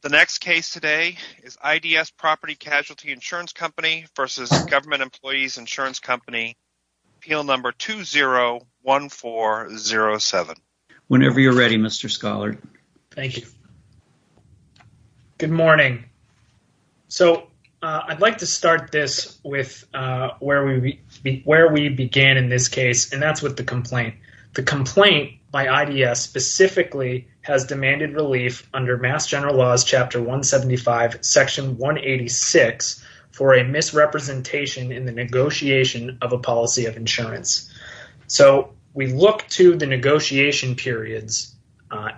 The next case today is IDS Property Casualty Insurance Company v. Government Employees Insurance Company, appeal number 201407. Whenever you're ready, Mr. Scholar. Thank you. Good morning. So, I'd like to start this with where we began in this case, and that's with complaint. The complaint by IDS specifically has demanded relief under Mass General Laws Chapter 175, Section 186 for a misrepresentation in the negotiation of a policy of insurance. So, we look to the negotiation periods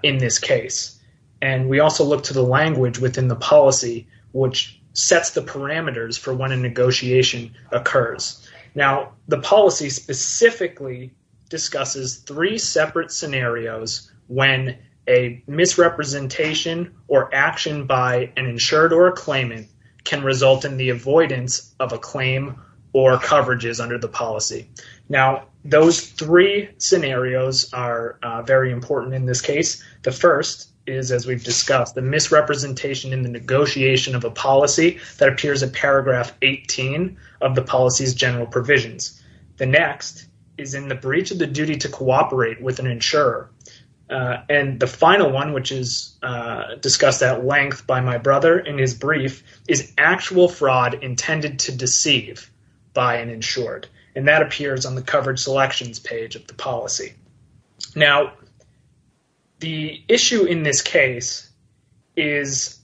in this case, and we also look to the language within the policy which sets the parameters for when a negotiation occurs. Now, the policy specifically discusses three separate scenarios when a misrepresentation or action by an insured or a claimant can result in the avoidance of a claim or coverages under the policy. Now, those three scenarios are very important in this case. The first is, as we've discussed, the misrepresentation in the negotiation of a policy that appears in Paragraph 18 of the general provisions. The next is in the breach of the duty to cooperate with an insurer. And the final one, which is discussed at length by my brother in his brief, is actual fraud intended to deceive by an insured, and that appears on the coverage selections page of the policy. Now, the issue in this case is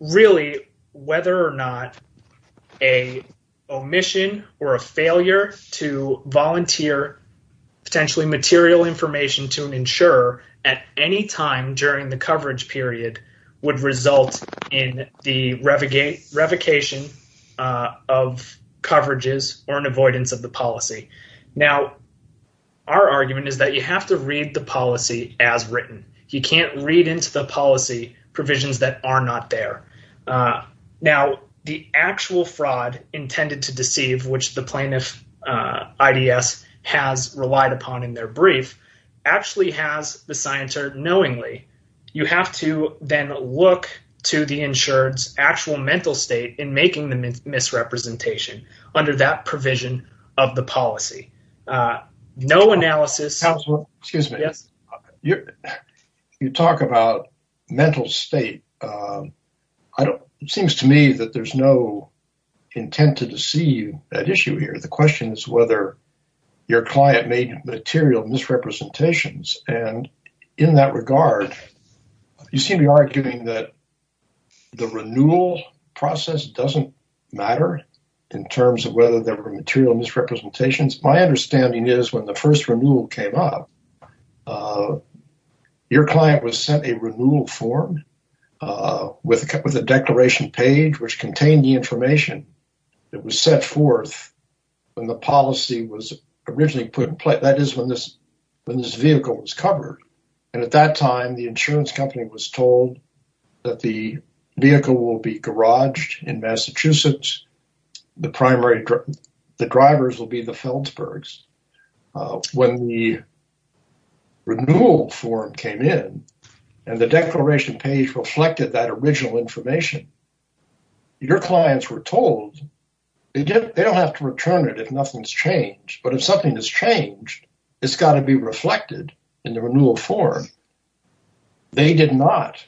really whether or not a omission or a failure to volunteer potentially material information to an insurer at any time during the coverage period would result in the revocation of coverages or an avoidance of the policy. Now, our argument is that you have to read the policy as written. You can't read into the policy provisions that are not there. Now, the actual fraud intended to deceive, which the plaintiff, IDS, has relied upon in their brief, actually has the scienter knowingly. You have to then look to the insured's actual mental state in making the misrepresentation under that provision of the policy. No analysis... Excuse me. Yes. You talk about mental state. It seems to me that there's no intent to deceive that issue here. The client made material misrepresentations, and in that regard, you seem to be arguing that the renewal process doesn't matter in terms of whether there were material misrepresentations. My understanding is when the first renewal came up, your client was sent a renewal form with a declaration page which contained the information that was set forth when the policy was originally put in place. That is when this vehicle was covered, and at that time, the insurance company was told that the vehicle will be garaged in Massachusetts. The primary... The drivers will be the Feldsbergs. When the renewal form came in and the declaration page reflected that original information, your clients were told they don't have to return it if nothing's changed, but if something has changed, it's got to be reflected in the renewal form. They did not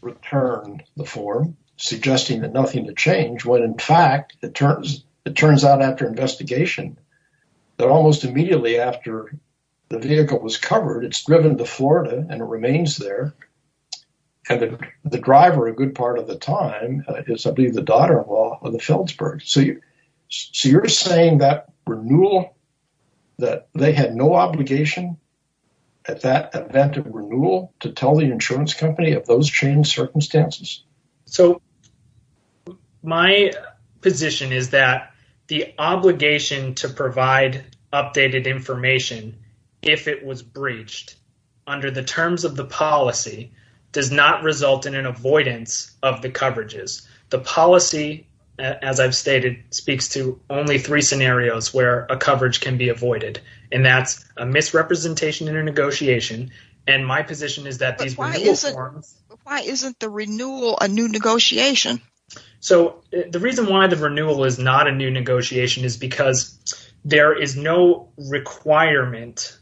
return the form suggesting that nothing had changed when, in fact, it turns out after investigation that almost immediately after the vehicle was covered, it's driven to Florida and it remains there, and the driver, a good part of the time, is, I believe, the daughter-in-law of the Feldsbergs. So, you're saying that renewal... That they had no obligation at that event of renewal to tell the insurance company of those changed circumstances? So, my position is that the obligation to provide updated information if it was breached under the terms of the policy does not result in an avoidance of the coverages. The policy, as I've stated, speaks to only three scenarios where a coverage can be avoided, and that's a misrepresentation in a negotiation, and my position is that these renewal forms... Why isn't the renewal a new negotiation? So, the reason why the renewal is not a new negotiation is because there is no requirement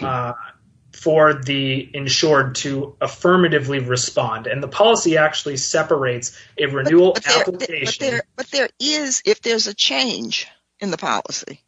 for the insured to affirmatively respond, and the policy actually separates a renewal application... But there is if there's a change in the policy.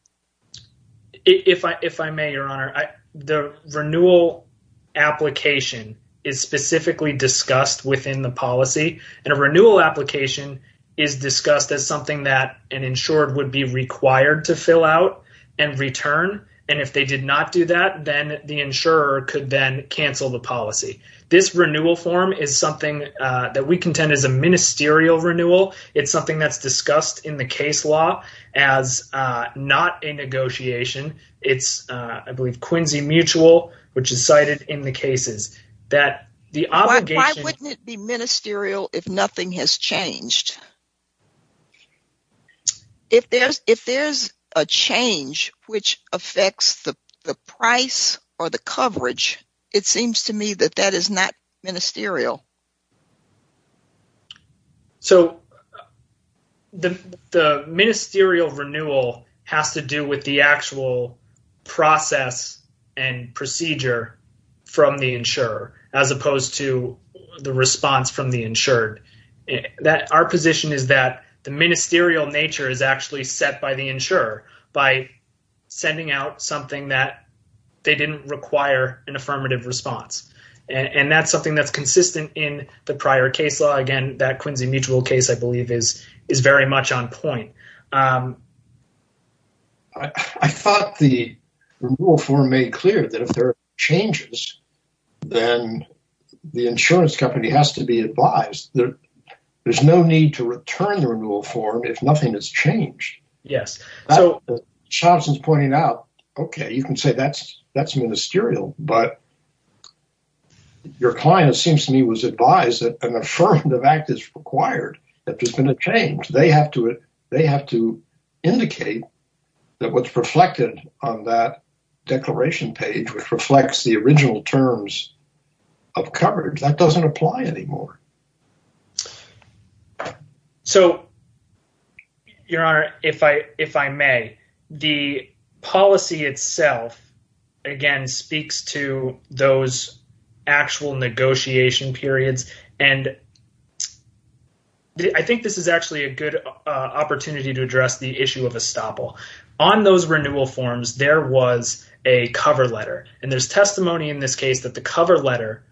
If I may, Your Honor, the renewal application is specifically discussed within the policy, and a renewal application is discussed as something that an insured would be required to fill out and return, and if they did not do that, then the insurer could then cancel the policy. This renewal form is something that we contend is a ministerial renewal. It's something that's discussed in the case law as not a negotiation. It's, I believe, Quincy Mutual, which is cited in the cases that the obligation... Why wouldn't it be ministerial if nothing has changed? If there's a change which affects the price or the coverage, it seems to me that that is not ministerial. So, the ministerial renewal has to do with the actual process and procedure from the insurer, as opposed to the response from the insured. That our position is that the ministerial nature is actually set by the insurer by sending out something that they didn't require an affirmative response, and that's something that's consistent in the prior case law. Again, that Quincy Mutual case, I believe, is very much on point. I thought the renewal form made clear that if there are changes, then the insurance company has to be advised. There's no need to return the renewal form if nothing has changed. Charleston's pointing out, okay, you can say that's ministerial, but your client, it seems to me, was advised that an affirmative act is required, that there's been a change. They have to indicate that what's reflected on that declaration page, reflects the original terms of coverage. That doesn't apply anymore. So, Your Honor, if I may, the policy itself, again, speaks to those actual negotiation periods, and I think this is actually a good opportunity to address the issue of estoppel. On those renewal forms, there was a cover letter, and there's testimony in this case that the cover letter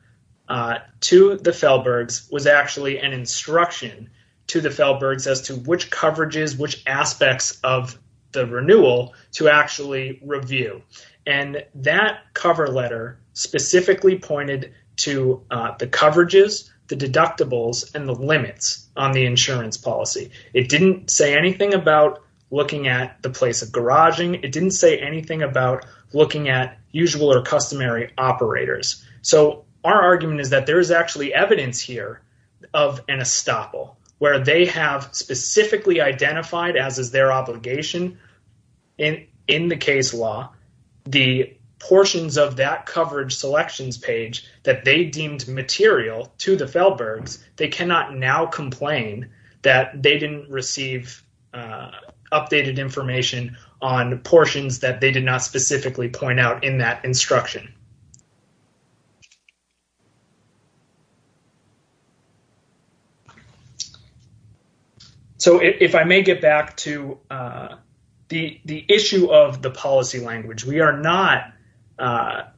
to the Felbergs was actually an instruction to the Felbergs as to which coverages, which aspects of the renewal to actually review. That cover letter specifically pointed to the coverages, the deductibles, and the limits on the insurance policy. It didn't say anything about looking at the place of garaging. It didn't say anything about looking at usual or customary operators. So, our argument is that there is actually evidence here of an estoppel, where they have specifically identified, as is their obligation in the case law, the portions of that coverage selections page that they deemed material to the Felbergs. They cannot now complain that they didn't receive updated information on portions that they did not specifically point out in that instruction. So, if I may get back to the issue of the policy language. We are not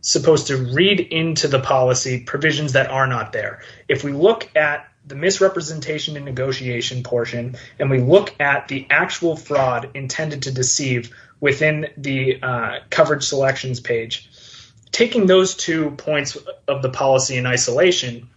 supposed to read into the policy provisions that are not there. If we look at the misrepresentation and negotiation portion, and we look at the actual fraud intended to deceive within the coverage selections page, taking those two points of the policy in isolation,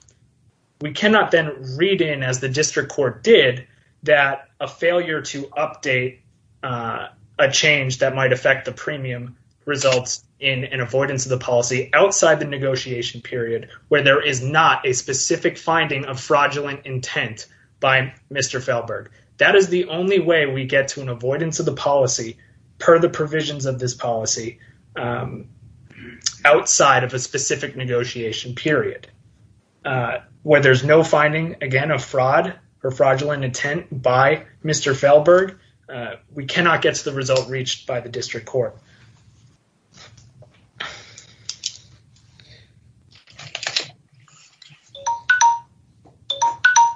we cannot then read in as the district court did that a failure to update a change that might affect the premium results in an avoidance of the policy outside the negotiation period where there is not a specific finding of fraudulent intent by Mr. Felberg. That is the only way we get to an avoidance of the policy per the provisions of this policy outside of a specific negotiation period. Where there's no finding, again, of fraud or fraudulent intent by Mr. Felberg, we cannot get to the result reached by the district court.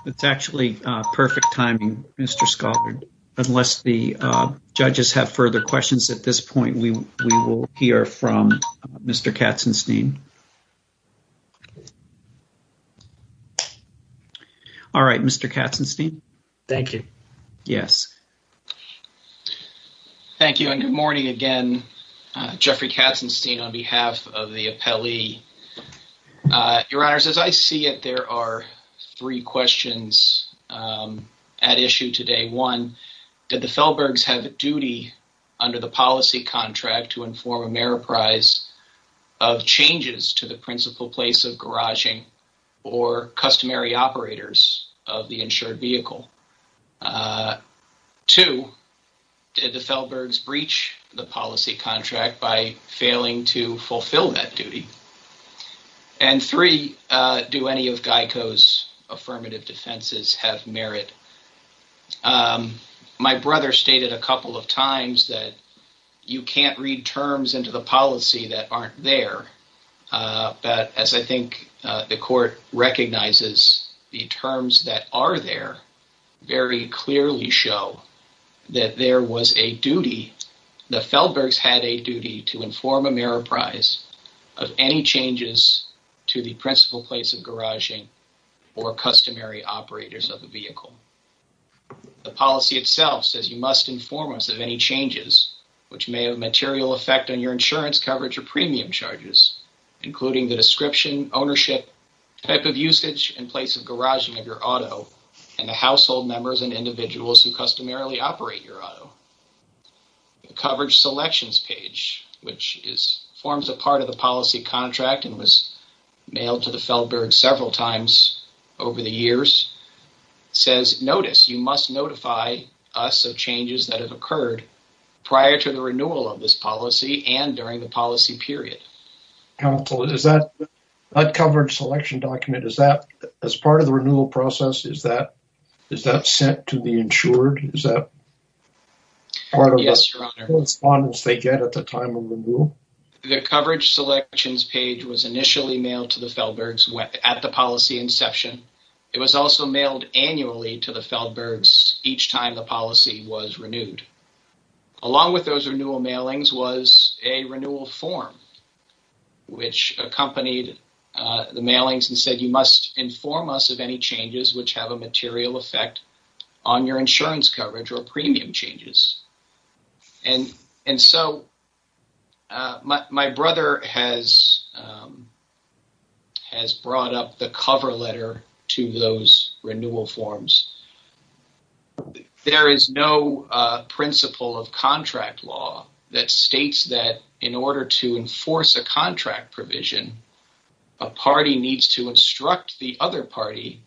It's actually perfect timing, Mr. Scholard. Unless the judges have further questions at this point, we will hear from Mr. Katzenstein. All right, Mr. Katzenstein. Thank you. Yes. Thank you and good morning again, Jeffrey Katzenstein, on behalf of the appellee your honors. As I see it, there are three questions at issue today. One, did the Felbergs have a duty under the policy contract to inform Ameriprise of changes to the principal place of garaging or customary operators of the insured vehicle? Two, did the Felbergs breach the policy contract by failing to fulfill that duty? And three, do any of GEICO's affirmative defenses have merit? My brother stated a couple of times that you can't read terms into the policy that aren't there. But as I think the court recognizes, the terms that are there very clearly show that there was a duty, the Felbergs had a duty to inform Ameriprise of any changes to the principal place of garaging or customary operators of the vehicle. The policy itself says you must inform us of any changes which may have a material effect on your insurance coverage or premium charges, including the description, ownership, type of usage and place of garaging of your auto and the household members and individuals who the coverage selections page, which forms a part of the policy contract and was mailed to the Felbergs several times over the years, says, notice, you must notify us of changes that have occurred prior to the renewal of this policy and during the policy period. Counsel, is that coverage selection document, is that as part of the renewal process, is that sent to the insured? Is that part of the correspondence they get at the time of renewal? The coverage selections page was initially mailed to the Felbergs at the policy inception. It was also mailed annually to the Felbergs each time the policy was renewed. Along with those renewal mailings was a renewal form which accompanied the mailings and said, must inform us of any changes which have a material effect on your insurance coverage or premium changes. My brother has brought up the cover letter to those renewal forms. There is no principle of contract law that states that in order to enforce a contract provision, a party needs to instruct the other party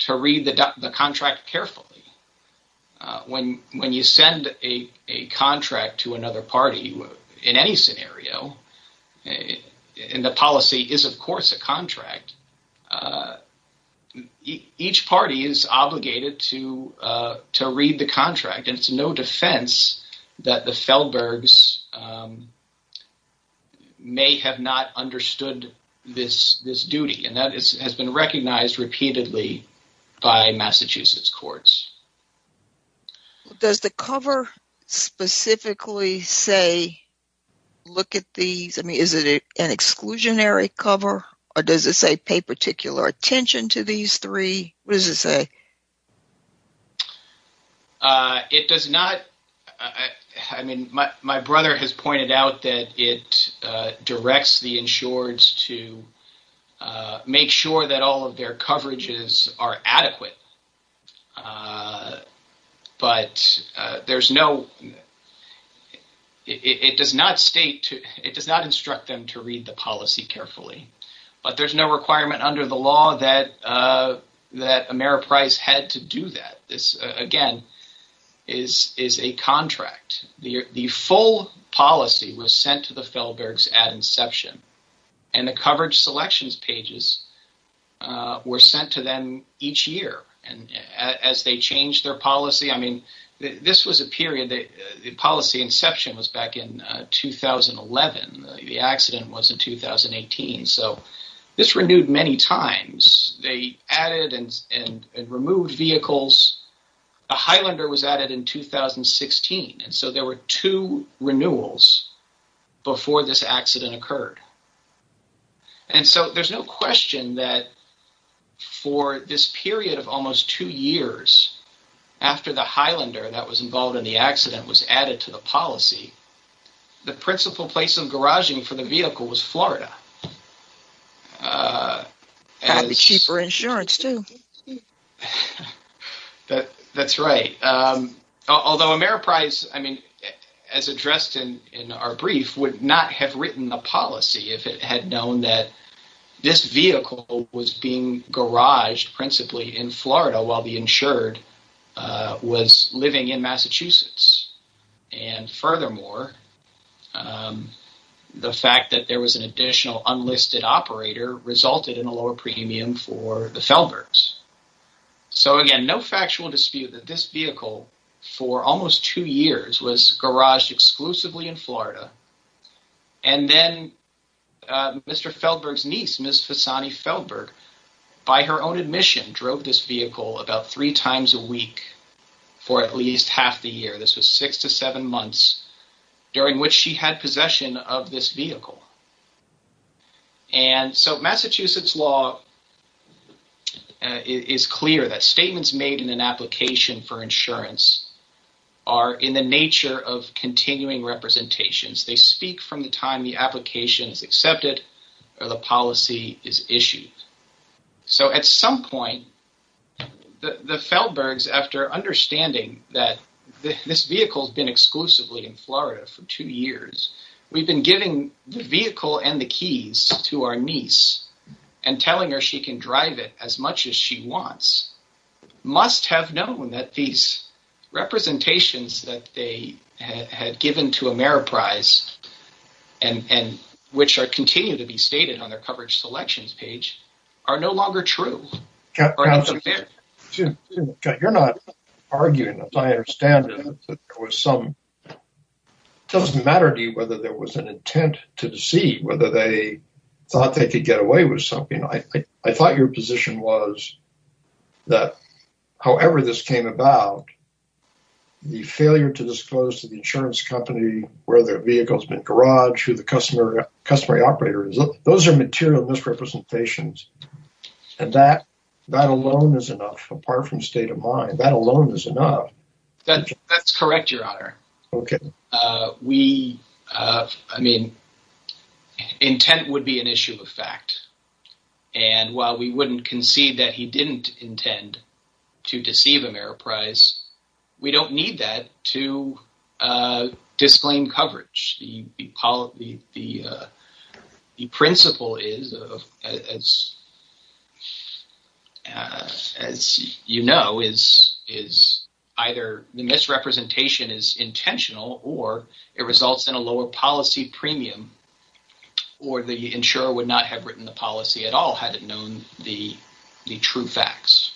to read the contract carefully. When you send a contract to another party, in any scenario, and the policy is of course a contract, each party is obligated to read the contract. It's no defense that the Felbergs may have not understood this duty and that has been recognized repeatedly by Massachusetts courts. Does the cover specifically say, look at these, I mean is it an exclusionary cover or does it say pay particular attention to these three? What does it say? It does not, I mean my brother has pointed out that it directs the insureds to make sure that all of their coverages are adequate, but it does not state, it does not instruct them to read the policy carefully. But there's no requirement under the law that Ameriprice had to do that. This again is a contract. The full policy was sent to the Felbergs at inception and the coverage selections pages were sent to them each year. As they changed their policy, I mean this was a period that the policy inception was back in 2011, the accident was in 2018, so this renewed many times. They added and removed vehicles. The Highlander was added in 2016 and so there were two renewals before this accident occurred. And so there's no question that for this period of almost two years after the Highlander that was principle place of garaging for the vehicle was Florida. Had the cheaper insurance too. That's right. Although Ameriprice, I mean as addressed in our brief, would not have written the policy if it had known that this vehicle was being garaged principally in Florida while the the fact that there was an additional unlisted operator resulted in a lower premium for the Felbergs. So again, no factual dispute that this vehicle for almost two years was garaged exclusively in Florida. And then Mr. Felberg's niece, Ms. Fasani Felberg, by her own admission drove this vehicle about three times a week for at least half the year. This was six to seven months during which she had possession of this vehicle. And so Massachusetts law is clear that statements made in an application for insurance are in the nature of continuing representations. They speak from the time the application is accepted or the policy is issued. So at some point the Felbergs, after understanding that this vehicle has been exclusively in Florida for two years, we've been giving the vehicle and the keys to our niece and telling her she can drive it as much as she wants. Must have known that these representations that they had given to Ameriprise, which continue to be stated on their coverage selections page, are no longer true. You're not arguing, as I understand it. It doesn't matter to you whether there was an intent to deceive, whether they thought they could get away with something. I thought your position was that however this came about, the failure to disclose to the insurance company where their vehicle's been garaged, who the customary operator is, those are material misrepresentations. And that alone is enough, apart from state of mind. That alone is enough. That's correct, your honor. Intent would be an issue of fact. And while we wouldn't concede that he didn't intend to deceive Ameriprise, we don't need that to disclaim coverage. The principle is, as you know, is either the misrepresentation is intentional or it results in a lower policy premium or the insurer would not have written the policy at all had it known the true facts.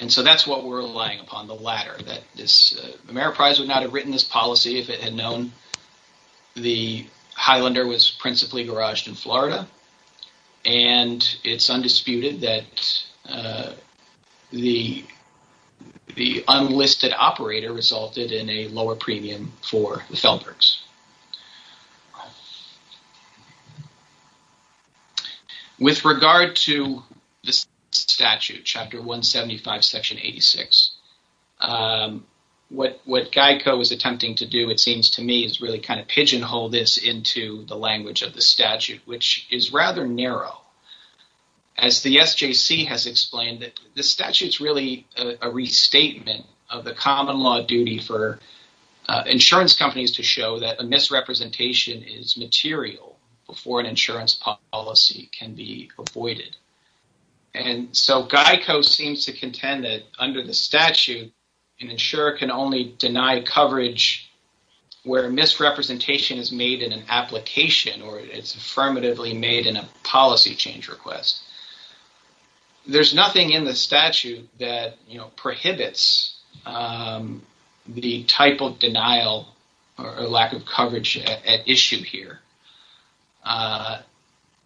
And so that's what we're relying upon, the latter, that this Ameriprise would not have written this policy if it had known the Highlander was principally garaged in Florida. And it's undisputed that the unlisted operator resulted in a lower premium for the Feldbergs. With regard to this statute, Chapter 175, Section 86, what GEICO is attempting to do, it seems to me, is really kind of pigeonhole this into the language of the statute, which is rather narrow. As the SJC has explained, the statute's really a restatement of the common law duty for insurance companies to show that a misrepresentation of a vehicle is intentional. Misrepresentation is material before an insurance policy can be avoided. And so GEICO seems to contend that under the statute, an insurer can only deny coverage where misrepresentation is made in an application or it's affirmatively made in a policy change request. There's nothing in the issue here.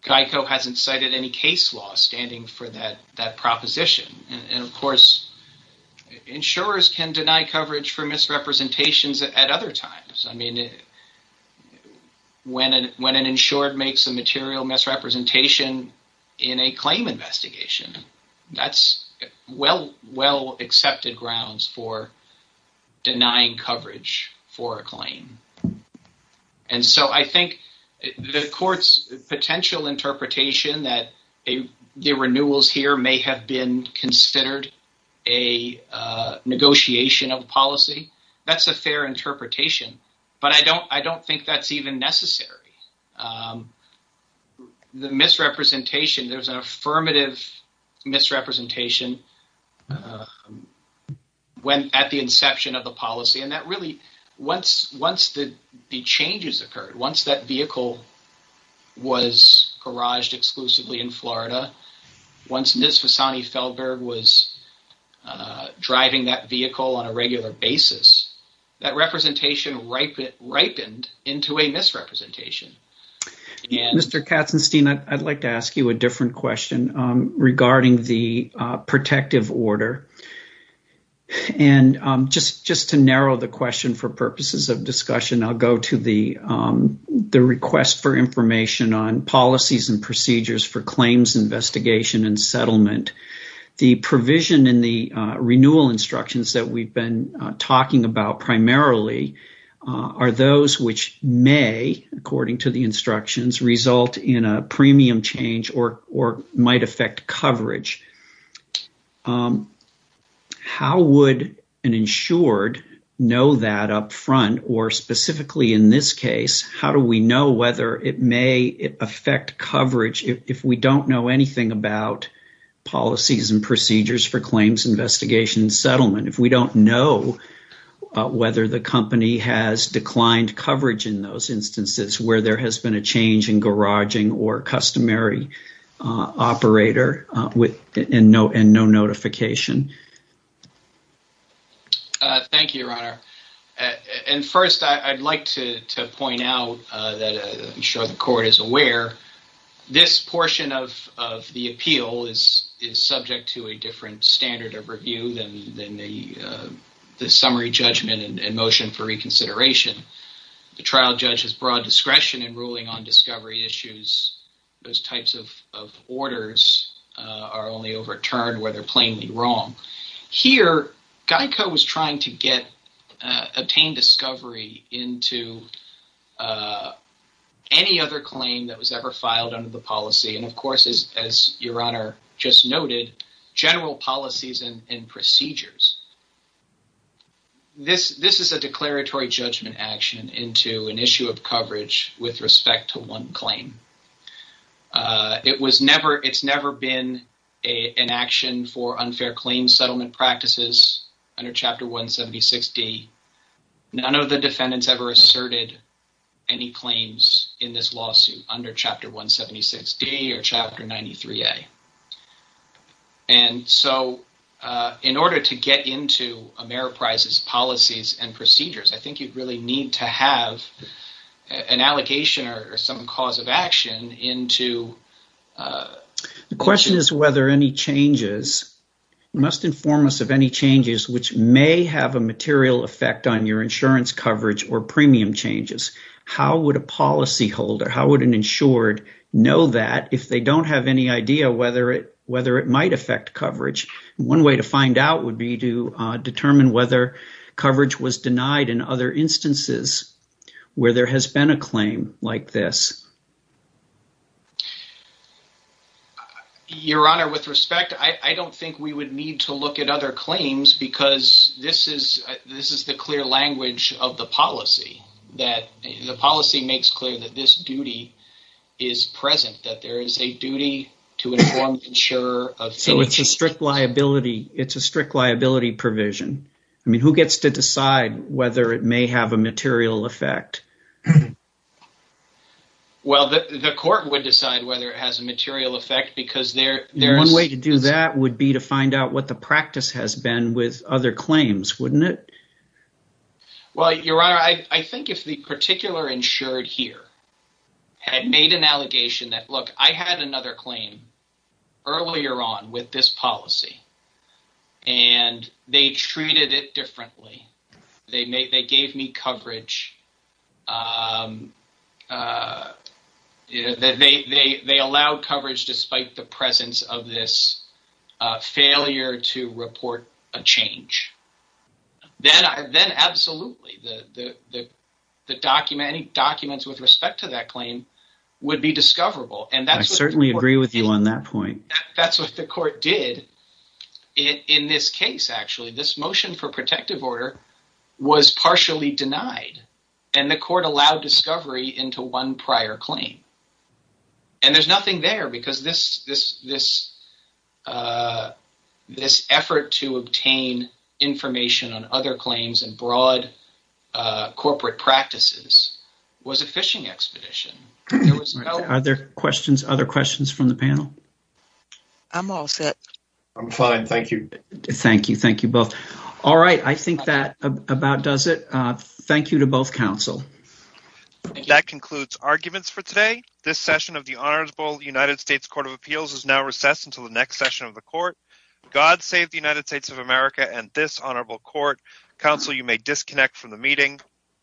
GEICO hasn't cited any case law standing for that proposition. And of course, insurers can deny coverage for misrepresentations at other times. I mean, when an insured makes a material misrepresentation in a claim investigation, that's well-accepted grounds for denying coverage for a claim. And so I think the court's potential interpretation that the renewals here may have been considered a negotiation of policy, that's a fair interpretation. But I don't think that's even necessary. The misrepresentation, there's an affirmative misrepresentation when at the inception of the policy. And that really, once the changes occurred, once that vehicle was garaged exclusively in Florida, once Ms. Fasani Feldberg was driving that vehicle on a regular basis, that representation ripened into a misrepresentation. Mr. Katzenstein, I'd like to ask you a different question regarding the protective order. And just to narrow the question for purposes of discussion, I'll go to the request for information on policies and procedures for claims investigation and settlement. The provision in the renewal instructions that we've been talking about primarily are those which may, according to the instructions, result in a premium change or might affect coverage. How would an insured know that upfront, or specifically in this case, how do we know whether it may affect coverage if we don't know anything about policies and procedures for claims investigation and settlement, if we don't know whether the company has declined coverage in those instances where there has been a change in garaging or customary operator and no notification? Thank you, Your Honor. And first, I'd like to point out that I'm sure the court is aware, this portion of the appeal is subject to a different standard of review than the summary judgment and motion for reconsideration. The trial judge has broad discretion in ruling on discovery issues. Those types of orders are only overturned where they're plainly wrong. Here, GEICO was trying to obtain discovery into any other claim that was ever filed under the policy, and of course, as Your Honor just noted, general policies and procedures. This is a declaratory judgment action into an issue of settlement practices under Chapter 176D. None of the defendants ever asserted any claims in this lawsuit under Chapter 176D or Chapter 93A. And so, in order to get into Ameriprise's policies and procedures, I think you'd really need to have an allocation or some cause of action into... The question is whether any changes must inform us of any changes which may have a material effect on your insurance coverage or premium changes. How would a policyholder, how would an insured know that if they don't have any idea whether it might affect coverage? One way to find out would be to determine whether coverage was denied in other instances where there has been a claim like this. Your Honor, with respect, I don't think we would need to look at other claims because this is the clear language of the policy. The policy makes clear that this duty is present, that there is a duty to inform the insurer of... So, it's a strict liability provision. I mean, who gets to decide whether it may have a material effect? Well, the court would decide whether it has a material effect because there... One way to do that would be to find out what the practice has been with other claims, wouldn't it? Well, Your Honor, I think if the particular insured here had made an allegation that, look, I had another claim earlier on with this policy and they treated it differently, they gave me coverage, they allowed coverage despite the presence of this failure to report a change, then absolutely, any documents with respect to that claim would be discoverable. I certainly agree with you on that point. That's what the court did in this case, actually. This motion for protective order was partially denied and the court allowed discovery into one prior claim. And there's nothing there because this effort to obtain information on other claims and broad corporate practices was a phishing expedition. Are there other questions from the panel? I'm all set. I'm fine. Thank you. Thank you. Thank you both. All right. I think that about does it. Thank you to both counsel. That concludes arguments for today. This session of the Honorable United States Court of Appeals is now recessed until the next session of the court. God save the United States of America and this honorable court. Counsel, you may disconnect from the meeting.